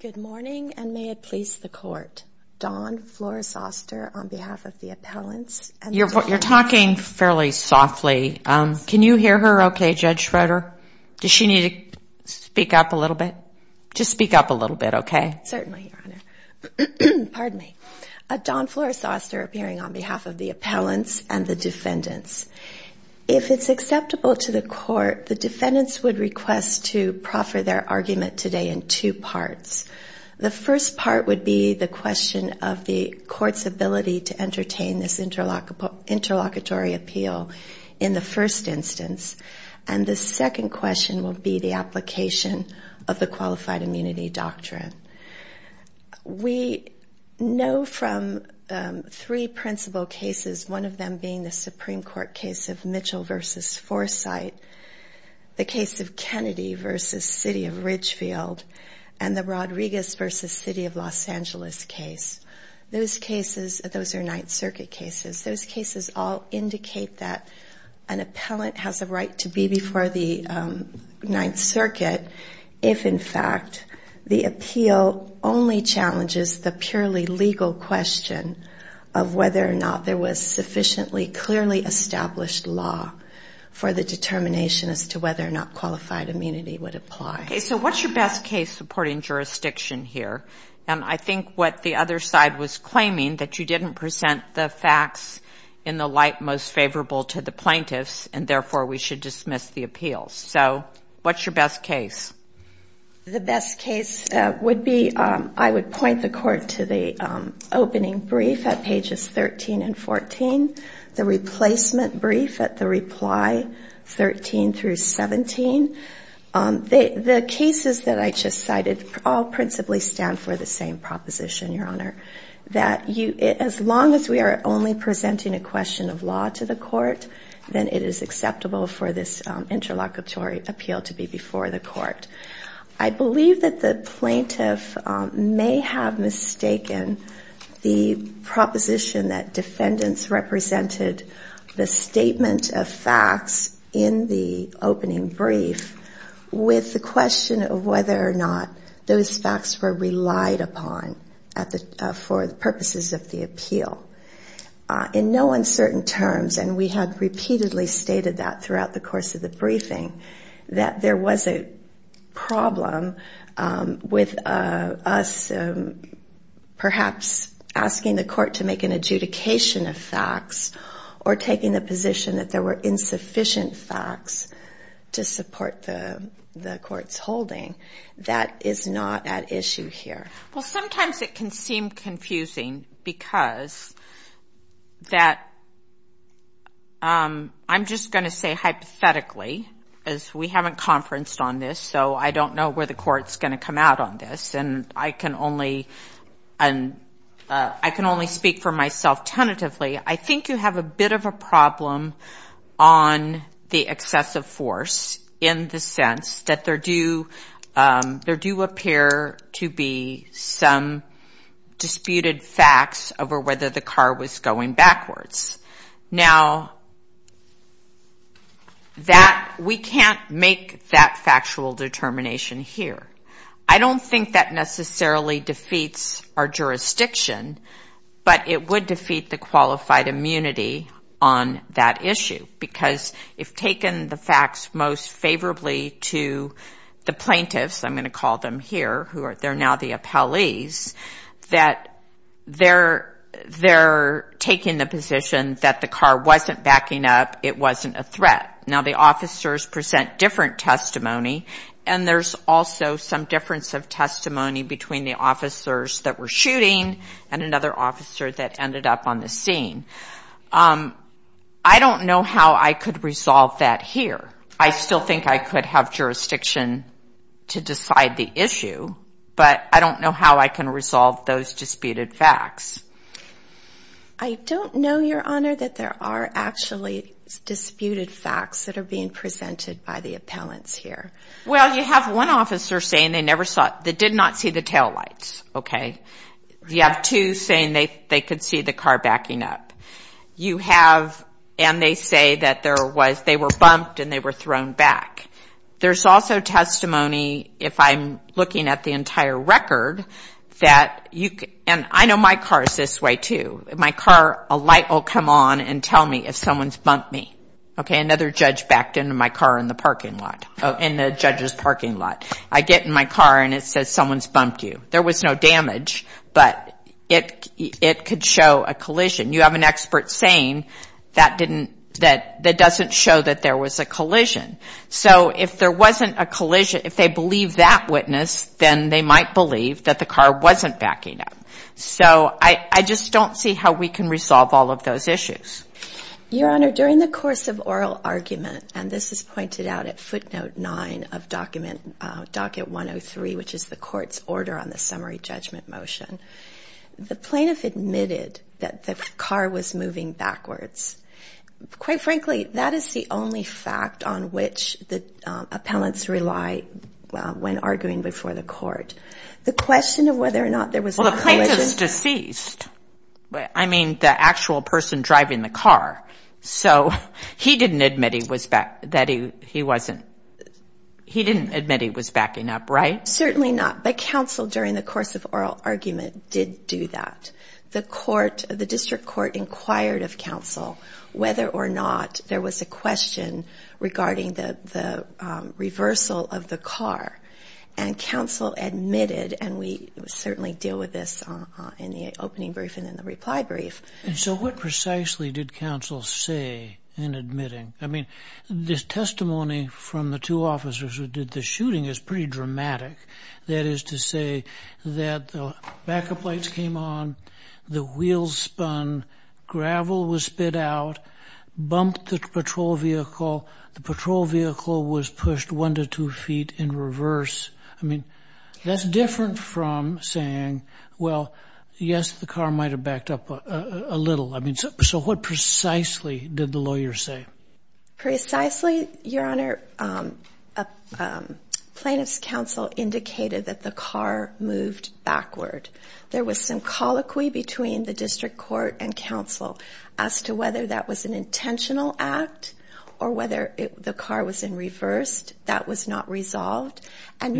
Good morning, and may it please the Court. Dawn Flores-Oster, on behalf of the appellants and the defendants. You're talking fairly softly. Can you hear her okay, Judge Schroeder? Does she need to speak up a little bit? Just speak up a little bit, okay? Certainly, Your Honor. Pardon me. Dawn Flores-Oster, appearing on behalf of the appellants and the defendants. If it's acceptable to the Court, the defendants would request to proffer their argument today in two parts. The first part would be the question of the Court's ability to entertain this interlocutory appeal in the first instance, and the second question will be the application of the Qualified Immunity Doctrine. We know from three principal cases, one of them being the Supreme Court case of Mitchell v. Foresight, the case of Kennedy v. City of Ridgefield, and the Rodriguez v. City of Los Angeles case. Those are Ninth Circuit cases. Those cases all indicate that an appellant has a right to be before the Ninth Circuit if, in fact, the appeal only challenges the purely legal question of whether or not there was sufficiently clearly established law for the determination as to whether or not qualified immunity would apply. Okay. So what's your best case supporting jurisdiction here? And I think what the other side was claiming, that you didn't present the facts in the light most favorable to the plaintiffs, and therefore we should dismiss the appeals. So what's your best case? The best case would be, I would point the Court to the opening brief at pages 13 and 14, the replacement brief at the reply 13 through 17. The cases that I just cited all principally stand for the same proposition, Your Honor, that as long as we are only presenting a question of to the Court, then it is acceptable for this interlocutory appeal to be before the Court. I believe that the plaintiff may have mistaken the proposition that defendants represented the statement of facts in the opening brief with the question of whether or not those facts were lied upon for the purposes of the appeal. In no uncertain terms, and we have repeatedly stated that throughout the course of the briefing, that there was a problem with us perhaps asking the Court to make an adjudication of facts or taking the position that there were sufficient facts to support the Court's holding. That is not at issue here. Well, sometimes it can seem confusing because I'm just going to say hypothetically, as we haven't conferenced on this, so I don't know where the Court's going to come out on this, and I can only speak for myself tentatively. I think you have a bit of a problem on the excessive force in the sense that there do appear to be some disputed facts over whether the car was going backwards. Now, we can't make that factual determination here. I don't think that necessarily defeats our jurisdiction, but it would defeat the qualified immunity on that issue, because if taken the facts most favorably to the plaintiffs, I'm going to call them here, who are now the appellees, that they're taking the position that the car wasn't backing up, it wasn't a threat. Now, the officers present different testimony, and there's also some difference of testimony between the officers that were shooting and another officer that ended up on the scene. I don't know how I could resolve that here. I still think I could have jurisdiction to decide the issue, but I don't know how I can resolve those disputed facts. I don't know, Your Honor, that there are actually disputed facts that are being presented by the appellants here. Well, you have one officer saying they did not see the taillights, okay? You have two saying they could see the car backing up. You have, and they say that there was, they were bumped and they were thrown back. There's also testimony, if I'm looking at the entire record, that you, and I know my car is this way too. My car, a light will come on and tell me if someone's bumped me, okay? Another judge backed into my car in the parking lot, in the judge's parking lot. I get in my car and it says someone's bumped you. There was no damage, but it could show a collision. You have an expert saying that didn't, that doesn't show that there was a collision. So if there wasn't a collision, if they believe that witness, then they might believe that the car wasn't backing up. So I just don't see how we can resolve all of those issues. Your Honor, during the course of oral argument, and this is out at footnote nine of document, docket 103, which is the court's order on the summary judgment motion. The plaintiff admitted that the car was moving backwards. Quite frankly, that is the only fact on which the appellants rely when arguing before the court. The question of whether or not there was a collision. Well, the plaintiff's deceased. I mean, the actual person driving the car. So he didn't admit he was back, that he wasn't, he didn't admit he was backing up, right? Certainly not. But counsel, during the course of oral argument, did do that. The court, the district court, inquired of counsel whether or not there was a question regarding the reversal of the car. And counsel admitted, and we certainly deal with this in the opening brief and in the closing brief, what did counsel say in admitting? I mean, this testimony from the two officers who did the shooting is pretty dramatic. That is to say that the backup lights came on, the wheels spun, gravel was spit out, bumped the patrol vehicle, the patrol vehicle was pushed one to two feet in reverse. I mean, that's different from saying, well, yes, the car might have backed up a little. I mean, so what precisely did the lawyer say? Precisely, your honor, plaintiff's counsel indicated that the car moved backward. There was some colloquy between the district court and counsel as to whether that was an intentional act or whether the car was in reversed, that was not resolved. And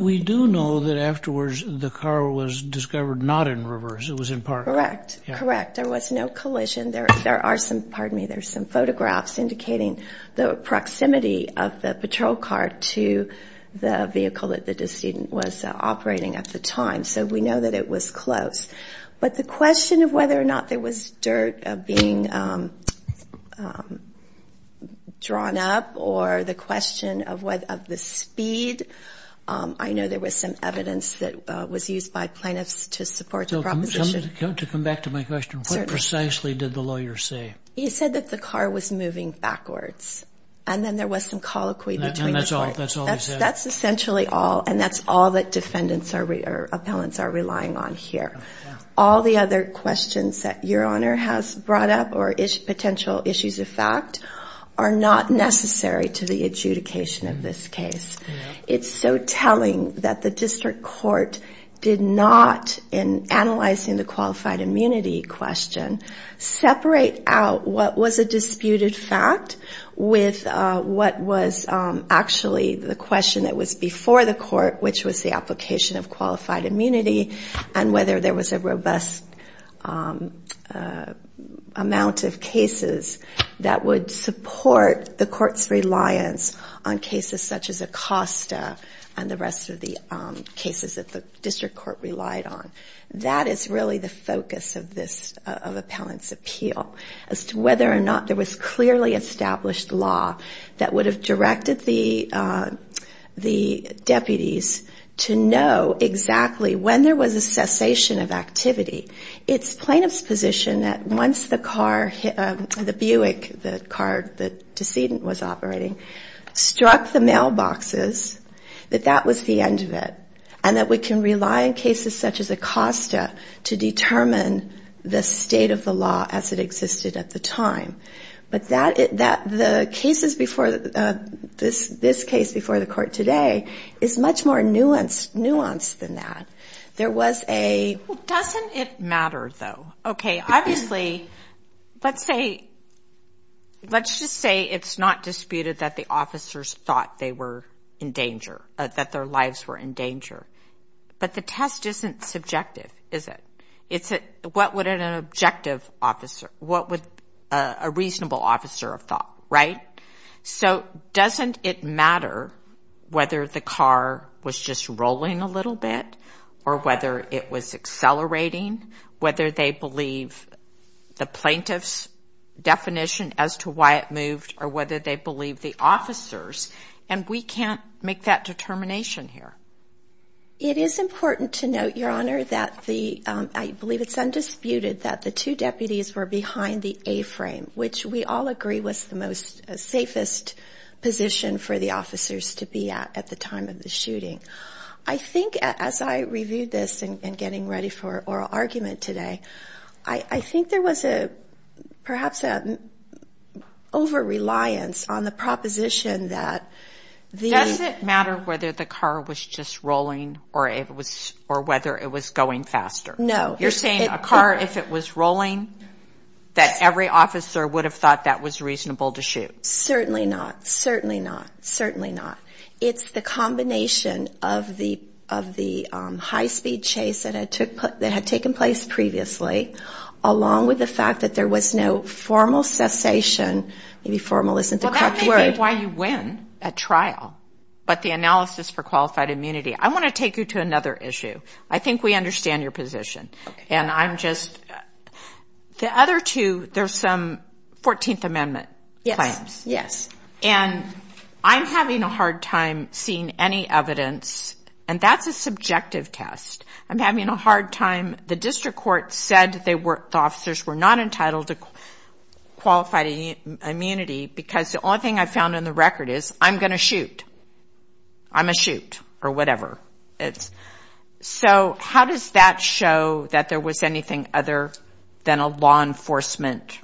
we do know that afterwards the car was discovered not in reverse, it was in park. Correct, correct. There was no collision. There are some, pardon me, there's some photographs indicating the proximity of the patrol car to the vehicle that the decedent was operating at the time. So we know that it was close. But the question of whether or not there was dirt being drawn up or the question of the speed, I know there was some evidence that was used by plaintiffs to support the proposition. To come back to my question, what precisely did the lawyer say? He said that the car was moving backwards and then there was some colloquy between the court. And that's all he said? That's essentially all and that's all that defendants or appellants are relying on here. All the other questions that your honor has brought up or potential issues of fact are not necessary to the adjudication of this case. It's so telling that the district court did not, in analyzing the qualified immunity question, separate out what was a disputed fact with what was actually the question that was before the court, which was the application of qualified immunity and whether there was a robust amount of cases that would support the court's reliance on cases such as Acosta and the rest of the cases that the district court relied on. That is really the focus of this of appellant's appeal, as to whether or not there was clearly established law that would have directed the deputies to know exactly when there was a cessation of activity. It's plaintiff's position that once the car, the Buick, the car the decedent was operating, struck the mailboxes, that that was the end of it. And that we can rely on cases such as Acosta to determine the state of the law as it existed at the time. But the cases before this, this case before the court today, is much more nuanced, nuanced than that. There was a... Doesn't it matter though? Okay, obviously, let's say, let's just say it's not disputed that the officers thought they were in danger, that their lives were in danger. But the test isn't subjective, is it? It's what would an objective officer, what would a reasonable officer have thought, right? So doesn't it matter whether the car was just rolling a little bit, or whether it was accelerating, whether they believe the plaintiff's definition as to why it moved, or whether they believe the officers? And we can't make that determination here. It is important to note, Your Honor, that the... I believe it's undisputed that the two deputies were behind the A-frame, which we all agree was the most safest position for the officers to be at at the time of the shooting. I think as I reviewed this and getting ready for oral argument today, I think there was perhaps an over-reliance on the proposition that the... Does it matter whether the car was just rolling, or whether it was going faster? No. You're saying a car, if it was rolling, that every officer would have thought that was reasonable to shoot? Certainly not, certainly not, certainly not. It's the combination of the high-speed chase that had taken place previously, along with the fact that there was no formal cessation, maybe formal isn't the correct word. Well, that may be why you win at trial, but the analysis for qualified immunity. I want to take you to another issue. I think we understand your position, and I'm just... The other two, there's some 14th Amendment plans. And I'm having a hard time seeing any evidence, and that's a subjective test. I'm having a hard time... The district court said the officers were not entitled to qualified immunity, because the only thing I found in the record is, I'm going to shoot. I'm going to shoot, or whatever. So how does that show that there was anything other than a law enforcement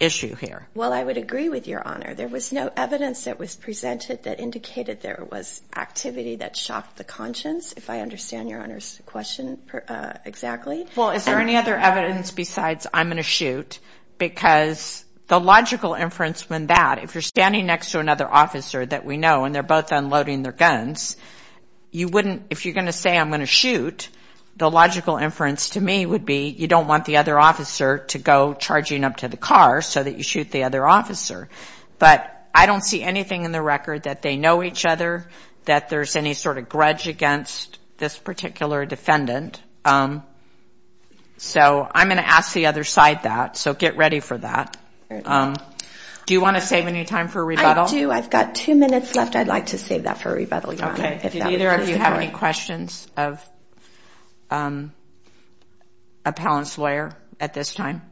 issue here? Well, I would agree with Your Honor. There was no evidence that was presented that indicated there was activity that shocked the conscience, if I understand Your Honor's question exactly. Well, is there any other evidence besides, I'm going to shoot? Because the logical inference when that, if you're standing next to another officer that we know, and they're both unloading their guns, you wouldn't... If you're going to say, I'm going to shoot, the logical inference to me would be, you don't want the other officer to go charging up to the car so that you shoot the other officer. But I don't see anything in the record that they know each other, that there's any sort of grudge against this particular defendant. So I'm going to ask the other side that, so get ready for that. Do you want to save any time for rebuttal? I do. I've got two minutes left. I'd like to save that for rebuttal, Your Honor. Okay. Do either of you have any questions of a balance lawyer at this time?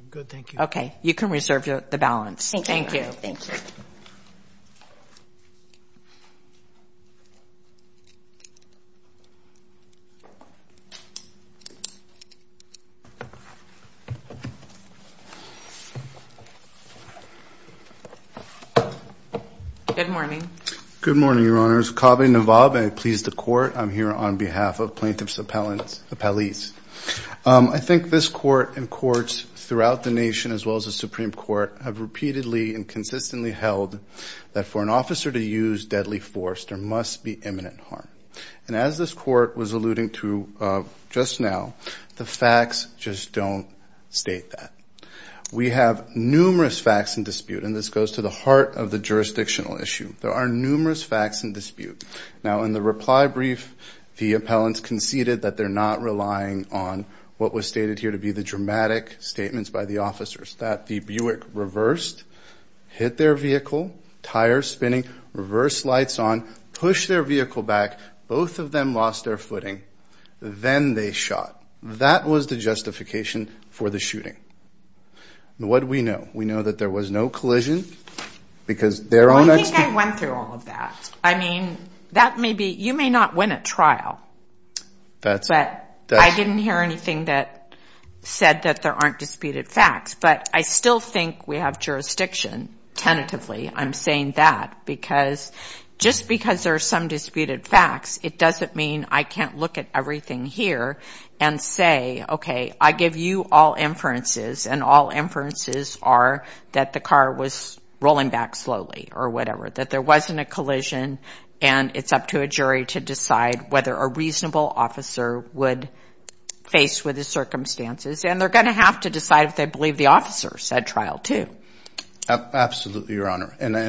I'm good, thank you. Okay. You can reserve the balance. Thank you. Good morning. Good morning, Your Honors. Kaveh Nawab, I please the court. I'm here on behalf of plaintiff's appellees. I think this court and courts throughout the nation, as well as the Supreme Court, have repeatedly and consistently held that for an officer to use deadly force, there must be imminent harm. And as this court was alluding to just now, the facts just don't state that. We have numerous facts in dispute, and this goes to the heart of the jurisdictional issue. There are numerous facts in dispute. Now in the reply brief, the appellants conceded that they're not relying on what was stated here to be the dramatic statements by the officers, that the Buick reversed, hit their vehicle, tires spinning, reverse lights on, push their vehicle back, both of them lost their footing, then they shot. That was the justification for the shooting. What do we know? We know that there was no collision because they're on... I think I went through all of that. I mean, you may not win a trial, but I didn't hear anything that said that there aren't disputed facts. But I still think we have jurisdiction tentatively. I'm saying that because just because there are some disputed facts, it doesn't mean I can't look at everything here and say, okay, I give you all inferences, and all inferences are that the car was rolling back slowly or whatever, that there wasn't a collision, and it's up to a jury to decide whether a reasonable officer would face with the circumstances. And they're going to have to decide if they believe the officer said trial too. Absolutely, Your Honor. And I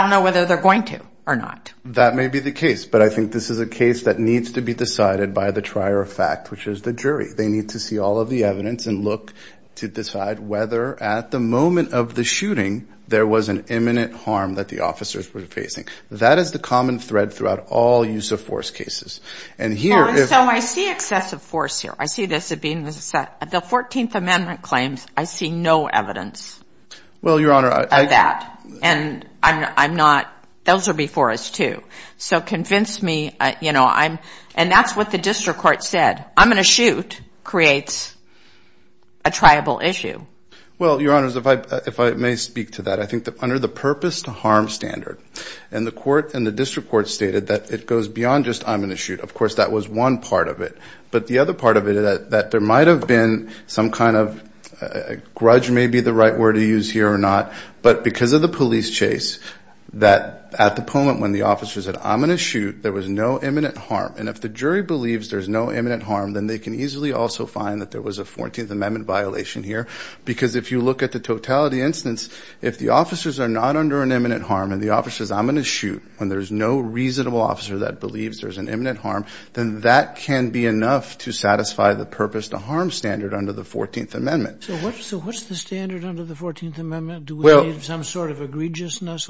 don't know whether they're going to or not. That may be the case, but I think this is a case that needs to be decided by the trier of fact, which is the jury. They need to see all of the evidence and look to decide whether at the moment of the shooting, there was an imminent harm that the officers were facing. That is the common thread throughout all use of force cases. And here... So I see excessive force here. I see this as being the 14th Amendment claims. I see no evidence of that. And I'm not... Those are before us too. So convince me, you know, I'm... And that's what the district court said. I'm going to shoot creates a triable issue. Well, Your Honors, if I may speak to that, I think that under the purpose to harm standard, and the court and the district court stated that it goes beyond just I'm going to shoot. Of course, that was one part of it. But the other part of it is that there might have been some kind of... Grudge may be the right word to use here or not, but because of the police chase that at the moment when the officers said, I'm going to shoot, there was no imminent harm. And if the jury believes there's no imminent harm, then they can easily also find that there was a 14th Amendment violation here. Because if you look at the totality instance, if the officers are not under an imminent harm and the officer says, I'm going to shoot, when there's no reasonable officer that believes there's an imminent harm, then that can be enough to satisfy the purpose to harm standard under the 14th Amendment. So what's the standard under the 14th Amendment? Some sort of egregiousness?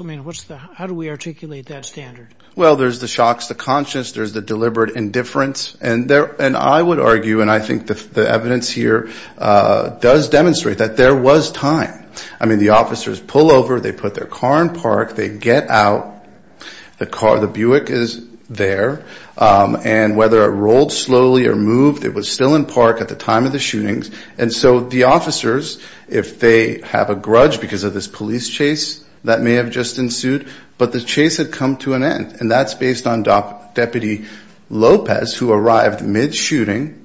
How do we articulate that standard? Well, there's the shocks to conscience, there's the deliberate indifference. And I would argue, and I think the evidence here does demonstrate that there was time. I mean, the officers pull over, they put their car in park, they get out, the Buick is there. And whether it rolled slowly or moved, it was still in park at the time of the shootings. And so the officers, if they have a police chase that may have just ensued, but the chase had come to an end. And that's based on Deputy Lopez, who arrived mid-shooting,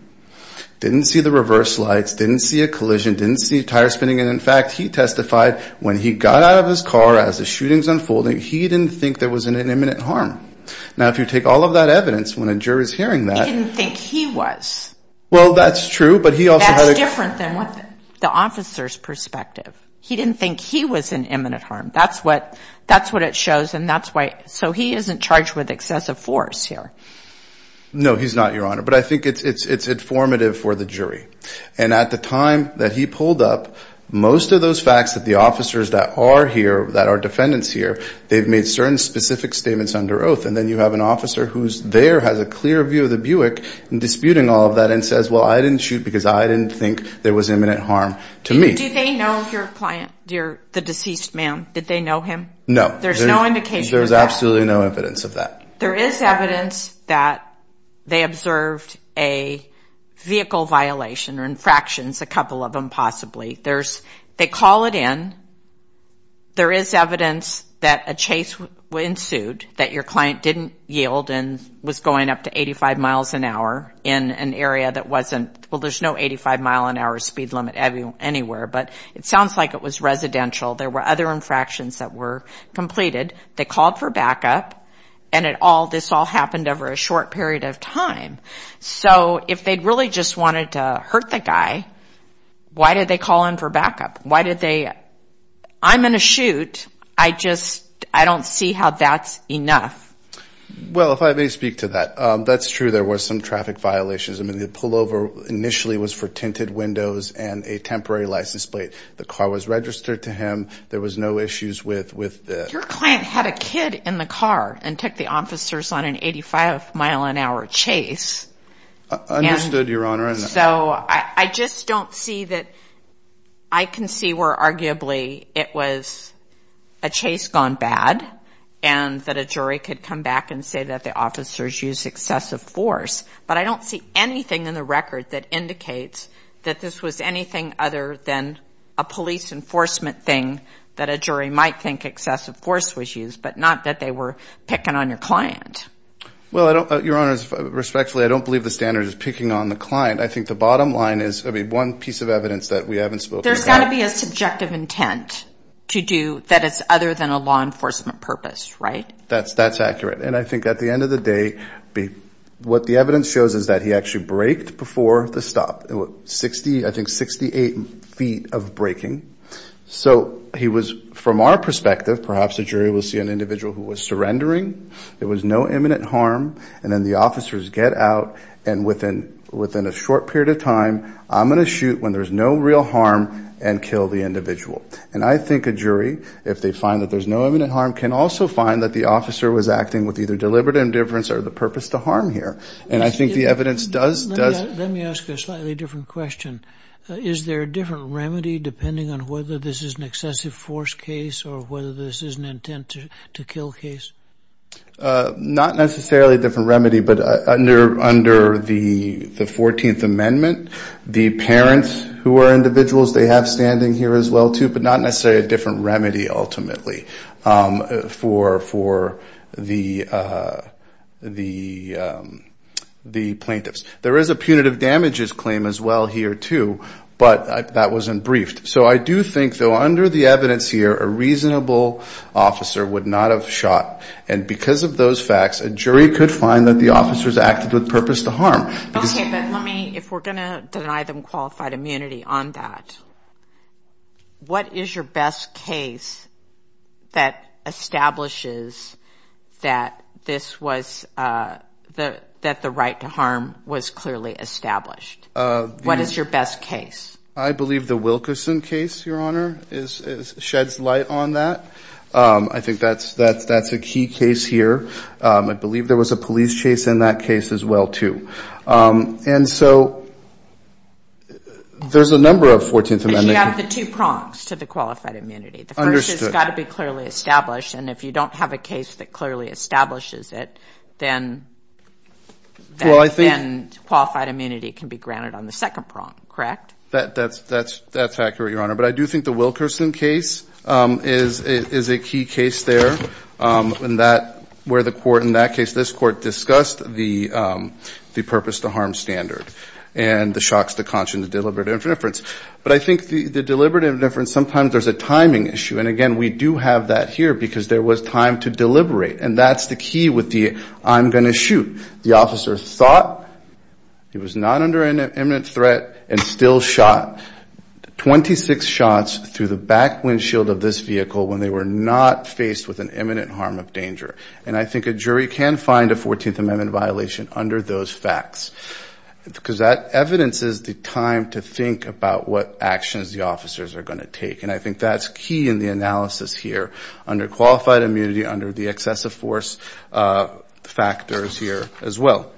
didn't see the reverse lights, didn't see a collision, didn't see tire spinning. And in fact, he testified when he got out of his car as the shootings unfolding, he didn't think there was an imminent harm. Now, if you take all of that evidence, when a jury's hearing that- He didn't think he was. Well, that's true, but he also- That's different than what the officer's perspective. He didn't think he was in imminent harm. That's what it shows, and that's why- So he isn't charged with excessive force here. No, he's not, Your Honor. But I think it's informative for the jury. And at the time that he pulled up, most of those facts that the officers that are here, that are defendants here, they've made certain specific statements under oath. And then you have an officer who's there, has a clear view of the Buick and disputing all of that and says, well, I didn't shoot because I didn't think there was imminent harm to me. Do they know your client, the deceased man? Did they know him? No. There's no indication of that? There's absolutely no evidence of that. There is evidence that they observed a vehicle violation or infractions, a couple of them, possibly. They call it in. There is evidence that a chase ensued, that your client didn't yield and was going up to 85 miles an hour in an area that wasn't- Well, there's no 85 mile an hour speed limit anywhere, but it sounds like it was residential. There were other infractions that were completed. They called for backup, and this all happened over a short period of time. So if they really just wanted to hurt the guy, why did they call in for backup? Why did they- I'm in a shoot. I just, I don't see how that's enough. Well, if I may speak to that, that's true. There was some traffic violations. I mean, the pullover initially was for tinted windows and a temporary license plate. The car was registered to him. There was no issues with- Your client had a kid in the car and took the officers on an 85 mile an hour chase. Understood, Your Honor. So I just don't see that, I can see where arguably it was a chase gone bad, and that a jury could come back and say that the officers used excessive force. But I don't see anything in the record that indicates that this was anything other than a police enforcement thing that a jury might think excessive force was used, but not that they were picking on your client. Well, Your Honor, respectfully, I don't believe the standard is picking on the client. I think the bottom line is, I mean, one piece of evidence that we haven't spoken about- There's got to be a subjective intent to do that it's other than a law enforcement purpose, right? That's accurate. And I think at the end of the day, what the evidence shows is that he actually braked before the stop. I think 68 feet of braking. So he was, from our perspective, perhaps a jury will see an individual who was surrendering. There was no imminent harm. And then the officers get out and within a short period of time, I'm going to shoot when there's no real harm and kill the individual. And I think a jury, if they find that there's no imminent harm, can also find that the officer was acting with either deliberate indifference or the purpose to harm here. And I think the evidence does- Let me ask you a slightly different question. Is there a different remedy depending on whether this is an excessive force case or whether this is an intent to kill case? Not necessarily a different remedy, but under the 14th Amendment, the parents who are individuals, they have standing here as well too, but not necessarily a different remedy ultimately for the plaintiffs. There is a punitive damages claim as well here too, but that wasn't briefed. So I do think though, under the evidence here, a reasonable officer would not have shot. And because of those facts, a jury could find that the officers acted with purpose to harm. Okay, but let me, if we're going to deny them qualified immunity on that, what is your best case that establishes that this was, that the right to harm was clearly established? What is your best case? I believe the Wilkerson case, Your Honor, sheds light on that. I think that's a key case here. I believe there was a police chase in that case as well too. And so there's a number of 14th Amendment- You have the two prongs to the qualified immunity. The first has got to be clearly established. And if you don't have a case that clearly establishes it, then qualified immunity can be granted on the second prong, correct? That's accurate, Your Honor. But I do think the Wilkerson case is a key case there, where the court in that case, this court discussed the purpose to harm standard and the shocks, the conscience, the deliberative indifference. But I think the deliberative indifference, sometimes there's a timing issue. And again, we do have that here because there was time to deliberate. And that's the key with the, I'm going to shoot. The officer thought he was not imminent threat and still shot 26 shots through the back windshield of this vehicle when they were not faced with an imminent harm of danger. And I think a jury can find a 14th Amendment violation under those facts. Because that evidence is the time to think about what actions the officers are going to take. And I think that's key in the analysis here under qualified immunity, under the excessive force factors here as well.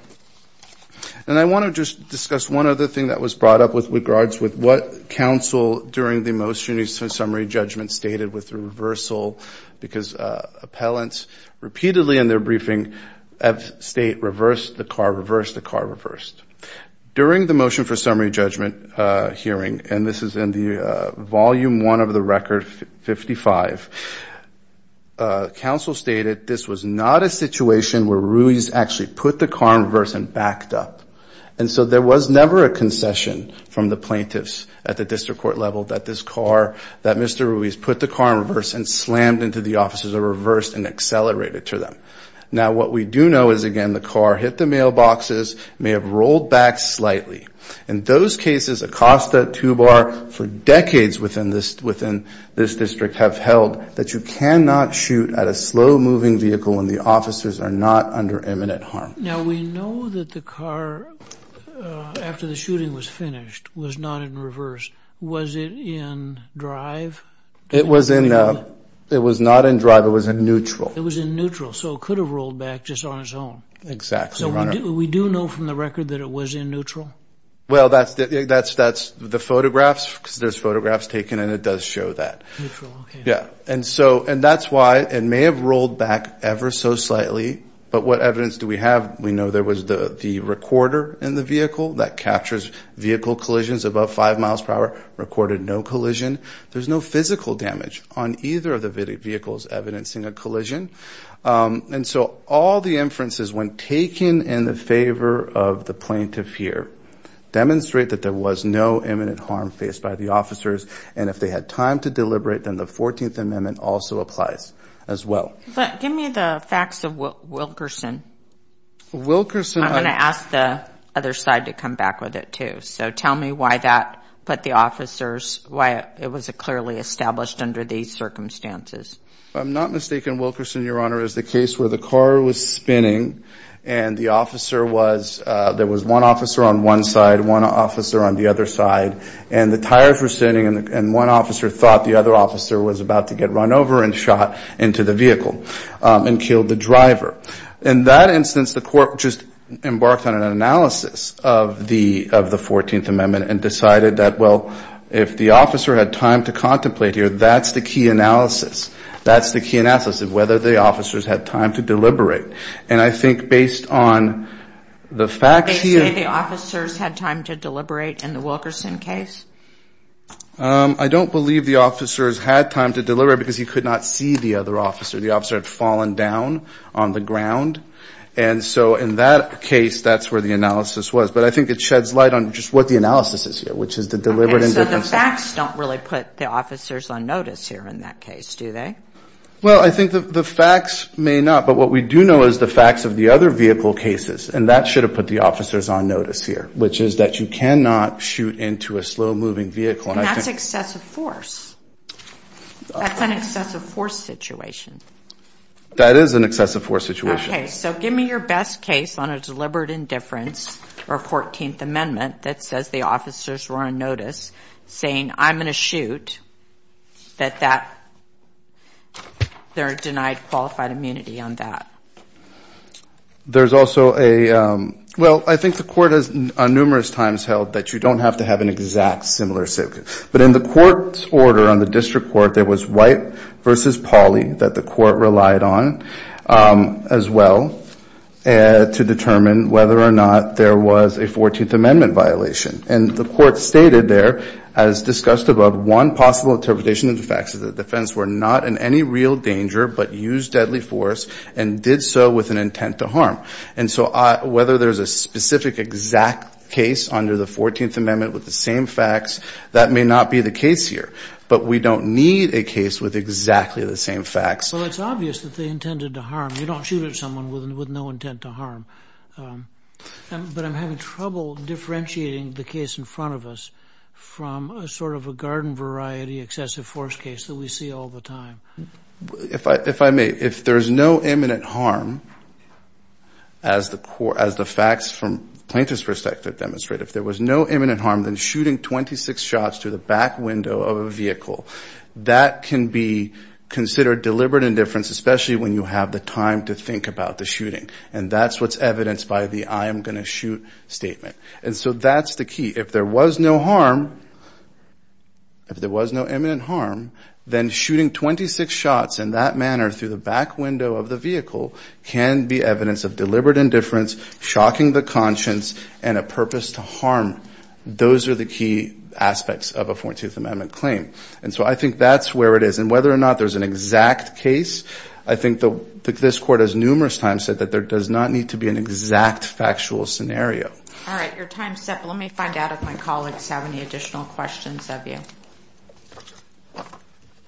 And I want to just discuss one other thing that was brought up with regards with what counsel during the motion for summary judgment stated with the reversal. Because appellants repeatedly in their briefing have state reversed the car, reversed the car, reversed. During the motion for summary judgment hearing, and this is in the stated, this was not a situation where Ruiz actually put the car in reverse and backed up. And so there was never a concession from the plaintiffs at the district court level that this car, that Mr. Ruiz put the car in reverse and slammed into the officers or reversed and accelerated to them. Now what we do know is again, the car hit the mailboxes, may have rolled back slightly. In those cases, Acosta, Tubar, for decades within this district have held that you cannot shoot at a slow moving vehicle and the officers are not under imminent harm. Now we know that the car after the shooting was finished was not in reverse. Was it in drive? It was in, it was not in drive. It was in neutral. It was in neutral. So it could have rolled back just on its own. Exactly. So we do know from the record that it was in neutral. Well, that's, that's, that's the because there's photographs taken and it does show that. Yeah. And so, and that's why it may have rolled back ever so slightly, but what evidence do we have? We know there was the, the recorder in the vehicle that captures vehicle collisions above five miles per hour, recorded no collision. There's no physical damage on either of the vehicles evidencing a collision. And so all the inferences when taken in the favor of the plaintiff here demonstrate that there was no imminent harm faced by the officers. And if they had time to deliberate, then the 14th amendment also applies as well. But give me the facts of Wilkerson. Wilkerson. I'm going to ask the other side to come back with it too. So tell me why that, but the officers, why it was a clearly established under these circumstances. I'm not mistaken. Wilkerson, your honor, is the case where the car was spinning and the officer was, there was one officer on one side, one officer on the other side, and the tires were spinning and one officer thought the other officer was about to get run over and shot into the vehicle and killed the driver. In that instance, the court just embarked on an analysis of the, of the 14th amendment and decided that, well, if the officer had time to contemplate here, that's the key analysis. That's the key analysis of whether the officers had time to deliberate. And I think based on the facts here. They say the officers had time to deliberate in the Wilkerson case? I don't believe the officers had time to deliberate because he could not see the other officer. The officer had fallen down on the ground. And so in that case, that's where the analysis was. But I think it sheds light on just what the analysis is here, which is the deliberate. Okay, so the facts don't really put the officers on notice here in that case, do they? Well, I think that the facts may not, but what we do know is the facts of the other vehicle cases, and that should have put the officers on notice here, which is that you cannot shoot into a slow moving vehicle. And that's excessive force. That's an excessive force situation. That is an excessive force situation. Okay, so give me your best case on a deliberate indifference or 14th amendment that says the officers were on notice saying I'm going to shoot, that they're denied qualified immunity on that. There's also a, well, I think the court has numerous times held that you don't have to have an exact similar situation. But in the court's order on the district court, there was white versus poly that the court relied on as well to determine whether or not there was a 14th amendment violation. And the court stated there, as discussed above, one possible interpretation of the facts of the defense were not in any real danger, but used deadly force and did so with an intent to harm. And so whether there's a specific exact case under the 14th amendment with the same facts, that may not be the case here. But we don't need a case with exactly the same facts. Well, it's obvious that they intended to harm. You don't shoot at someone with no intent to harm. But I'm having trouble differentiating the case in front of us from a sort of a garden variety excessive force case that we see all the time. If I may, if there's no imminent harm, as the facts from plaintiff's perspective demonstrate, if there was no imminent harm, then shooting 26 shots to the back window of a vehicle, that can be considered deliberate indifference, especially when you have the time to think about the shooting. And that's what's evidenced by the I am going to shoot statement. And so that's the key. If there was no harm, if there was no imminent harm, then shooting 26 shots in that manner through the back window of the vehicle can be evidence of deliberate indifference, shocking the conscience, and a purpose to harm. Those are the key aspects of a 14th amendment claim. And so I think that's where it is. And whether or not there's an exact case, I think that this court has numerous times said that there does not need to be an exact factual scenario. All right, your time's up. Let me find out if my colleagues have any additional questions of you.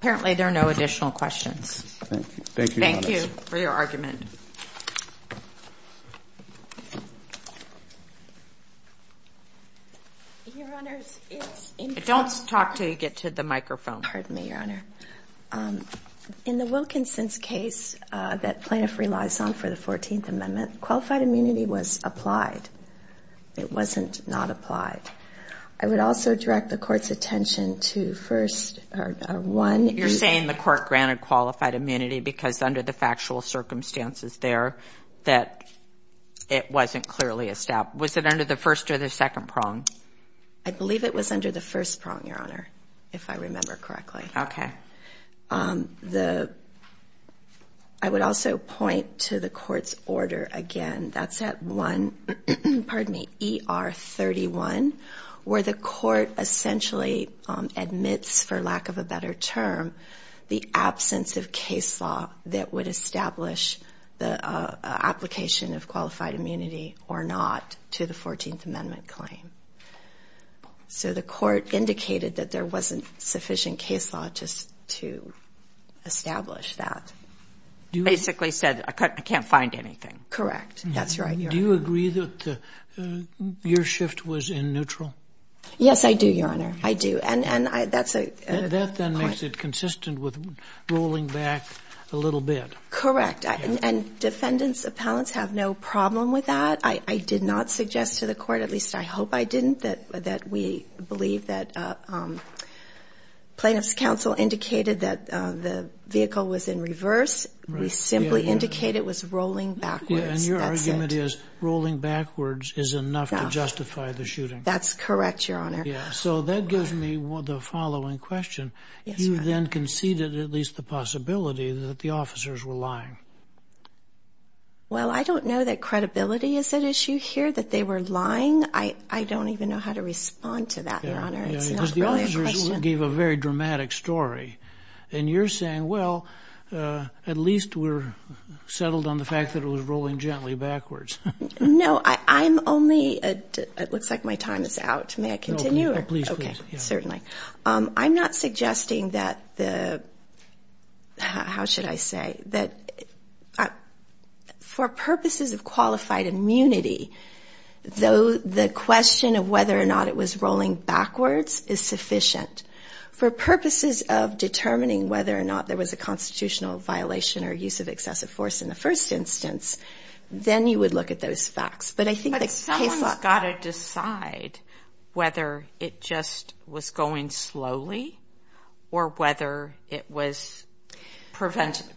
Apparently, there are no additional questions. Thank you. Thank you for your argument. Your Honor, don't talk till you get to the microphone. Pardon me, Your Honor. In the Wilkinson's case that plaintiff relies on for the 14th amendment, qualified immunity was applied. It wasn't not applied. I would also direct the court's attention to first, one. You're saying the court granted qualified immunity because under the factual circumstances there that it wasn't clearly established. Was it under the first or the second prong? I believe it was under the first prong, Your Honor, if I remember correctly. Okay. I would also point to the court's order again. That's at one, pardon me, ER 31, where the court essentially admits, for lack of a better term, the absence of case law that would establish the application of qualified immunity or not to the 14th amendment claim. So the court indicated that there wasn't sufficient case law just to establish that. Basically said, I can't find anything. Correct. That's right, Your Honor. Do you agree that your shift was in neutral? Yes, I do, Your Honor. I do. That then makes it consistent with rolling back a little bit. Correct. Defendants, appellants have no problem with that. I did not suggest to the court, at least I hope I didn't, that we believe that plaintiff's counsel indicated that the vehicle was in reverse. We simply indicated it was rolling backwards. And your argument is rolling backwards is enough to justify the shooting. That's correct, Your Honor. So that gives me the following question. You then conceded at least the possibility that the officers were lying. Well, I don't know that credibility is at issue here, that they were lying. I don't even know how to respond to that, Your Honor. The officers gave a very dramatic story. And you're saying, well, at least we're settled on the fact that it was rolling gently backwards. No, I'm only, it looks like my time is out. May I continue? Please. Certainly. I'm not suggesting that the, how should I say, that for purposes of qualified immunity, though the question of whether or not it was rolling backwards is sufficient, for purposes of determining whether or not there was a constitutional violation or use of excessive force in the first instance, then you would look at those facts. But I think the case law. But someone's was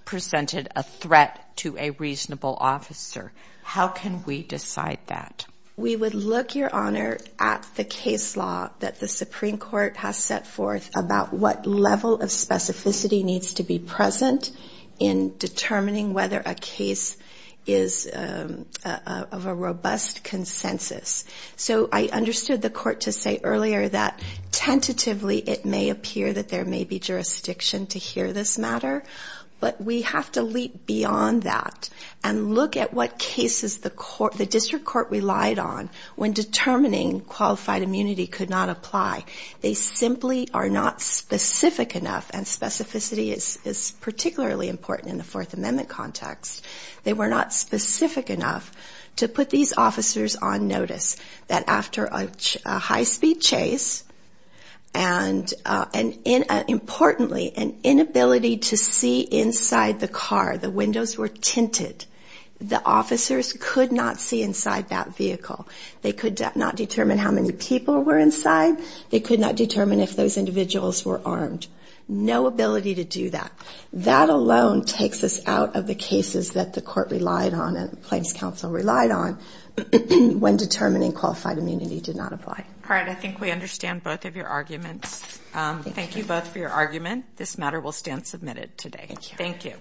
presented a threat to a reasonable officer. How can we decide that? We would look, Your Honor, at the case law that the Supreme Court has set forth about what level of specificity needs to be present in determining whether a case is of a robust consensus. So I understood the court to say earlier that tentatively it may appear that there may be jurisdiction to hear this matter, but we have to leap beyond that and look at what cases the court, the district court relied on when determining qualified immunity could not apply. They simply are not specific enough, and specificity is particularly important in the Fourth Amendment context. They were not specific enough to put these officers on notice that after a high-speed chase and, importantly, an inability to see inside the car. The windows were tinted. The officers could not see inside that vehicle. They could not determine how many people were inside. They could not determine if those individuals were armed. No ability to do that. That alone takes us out of the cases that the court relied on and claims counsel relied on when determining qualified immunity did not apply. All right. I think we understand both of your arguments. Thank you both for your argument. This matter will stand submitted today. Thank you.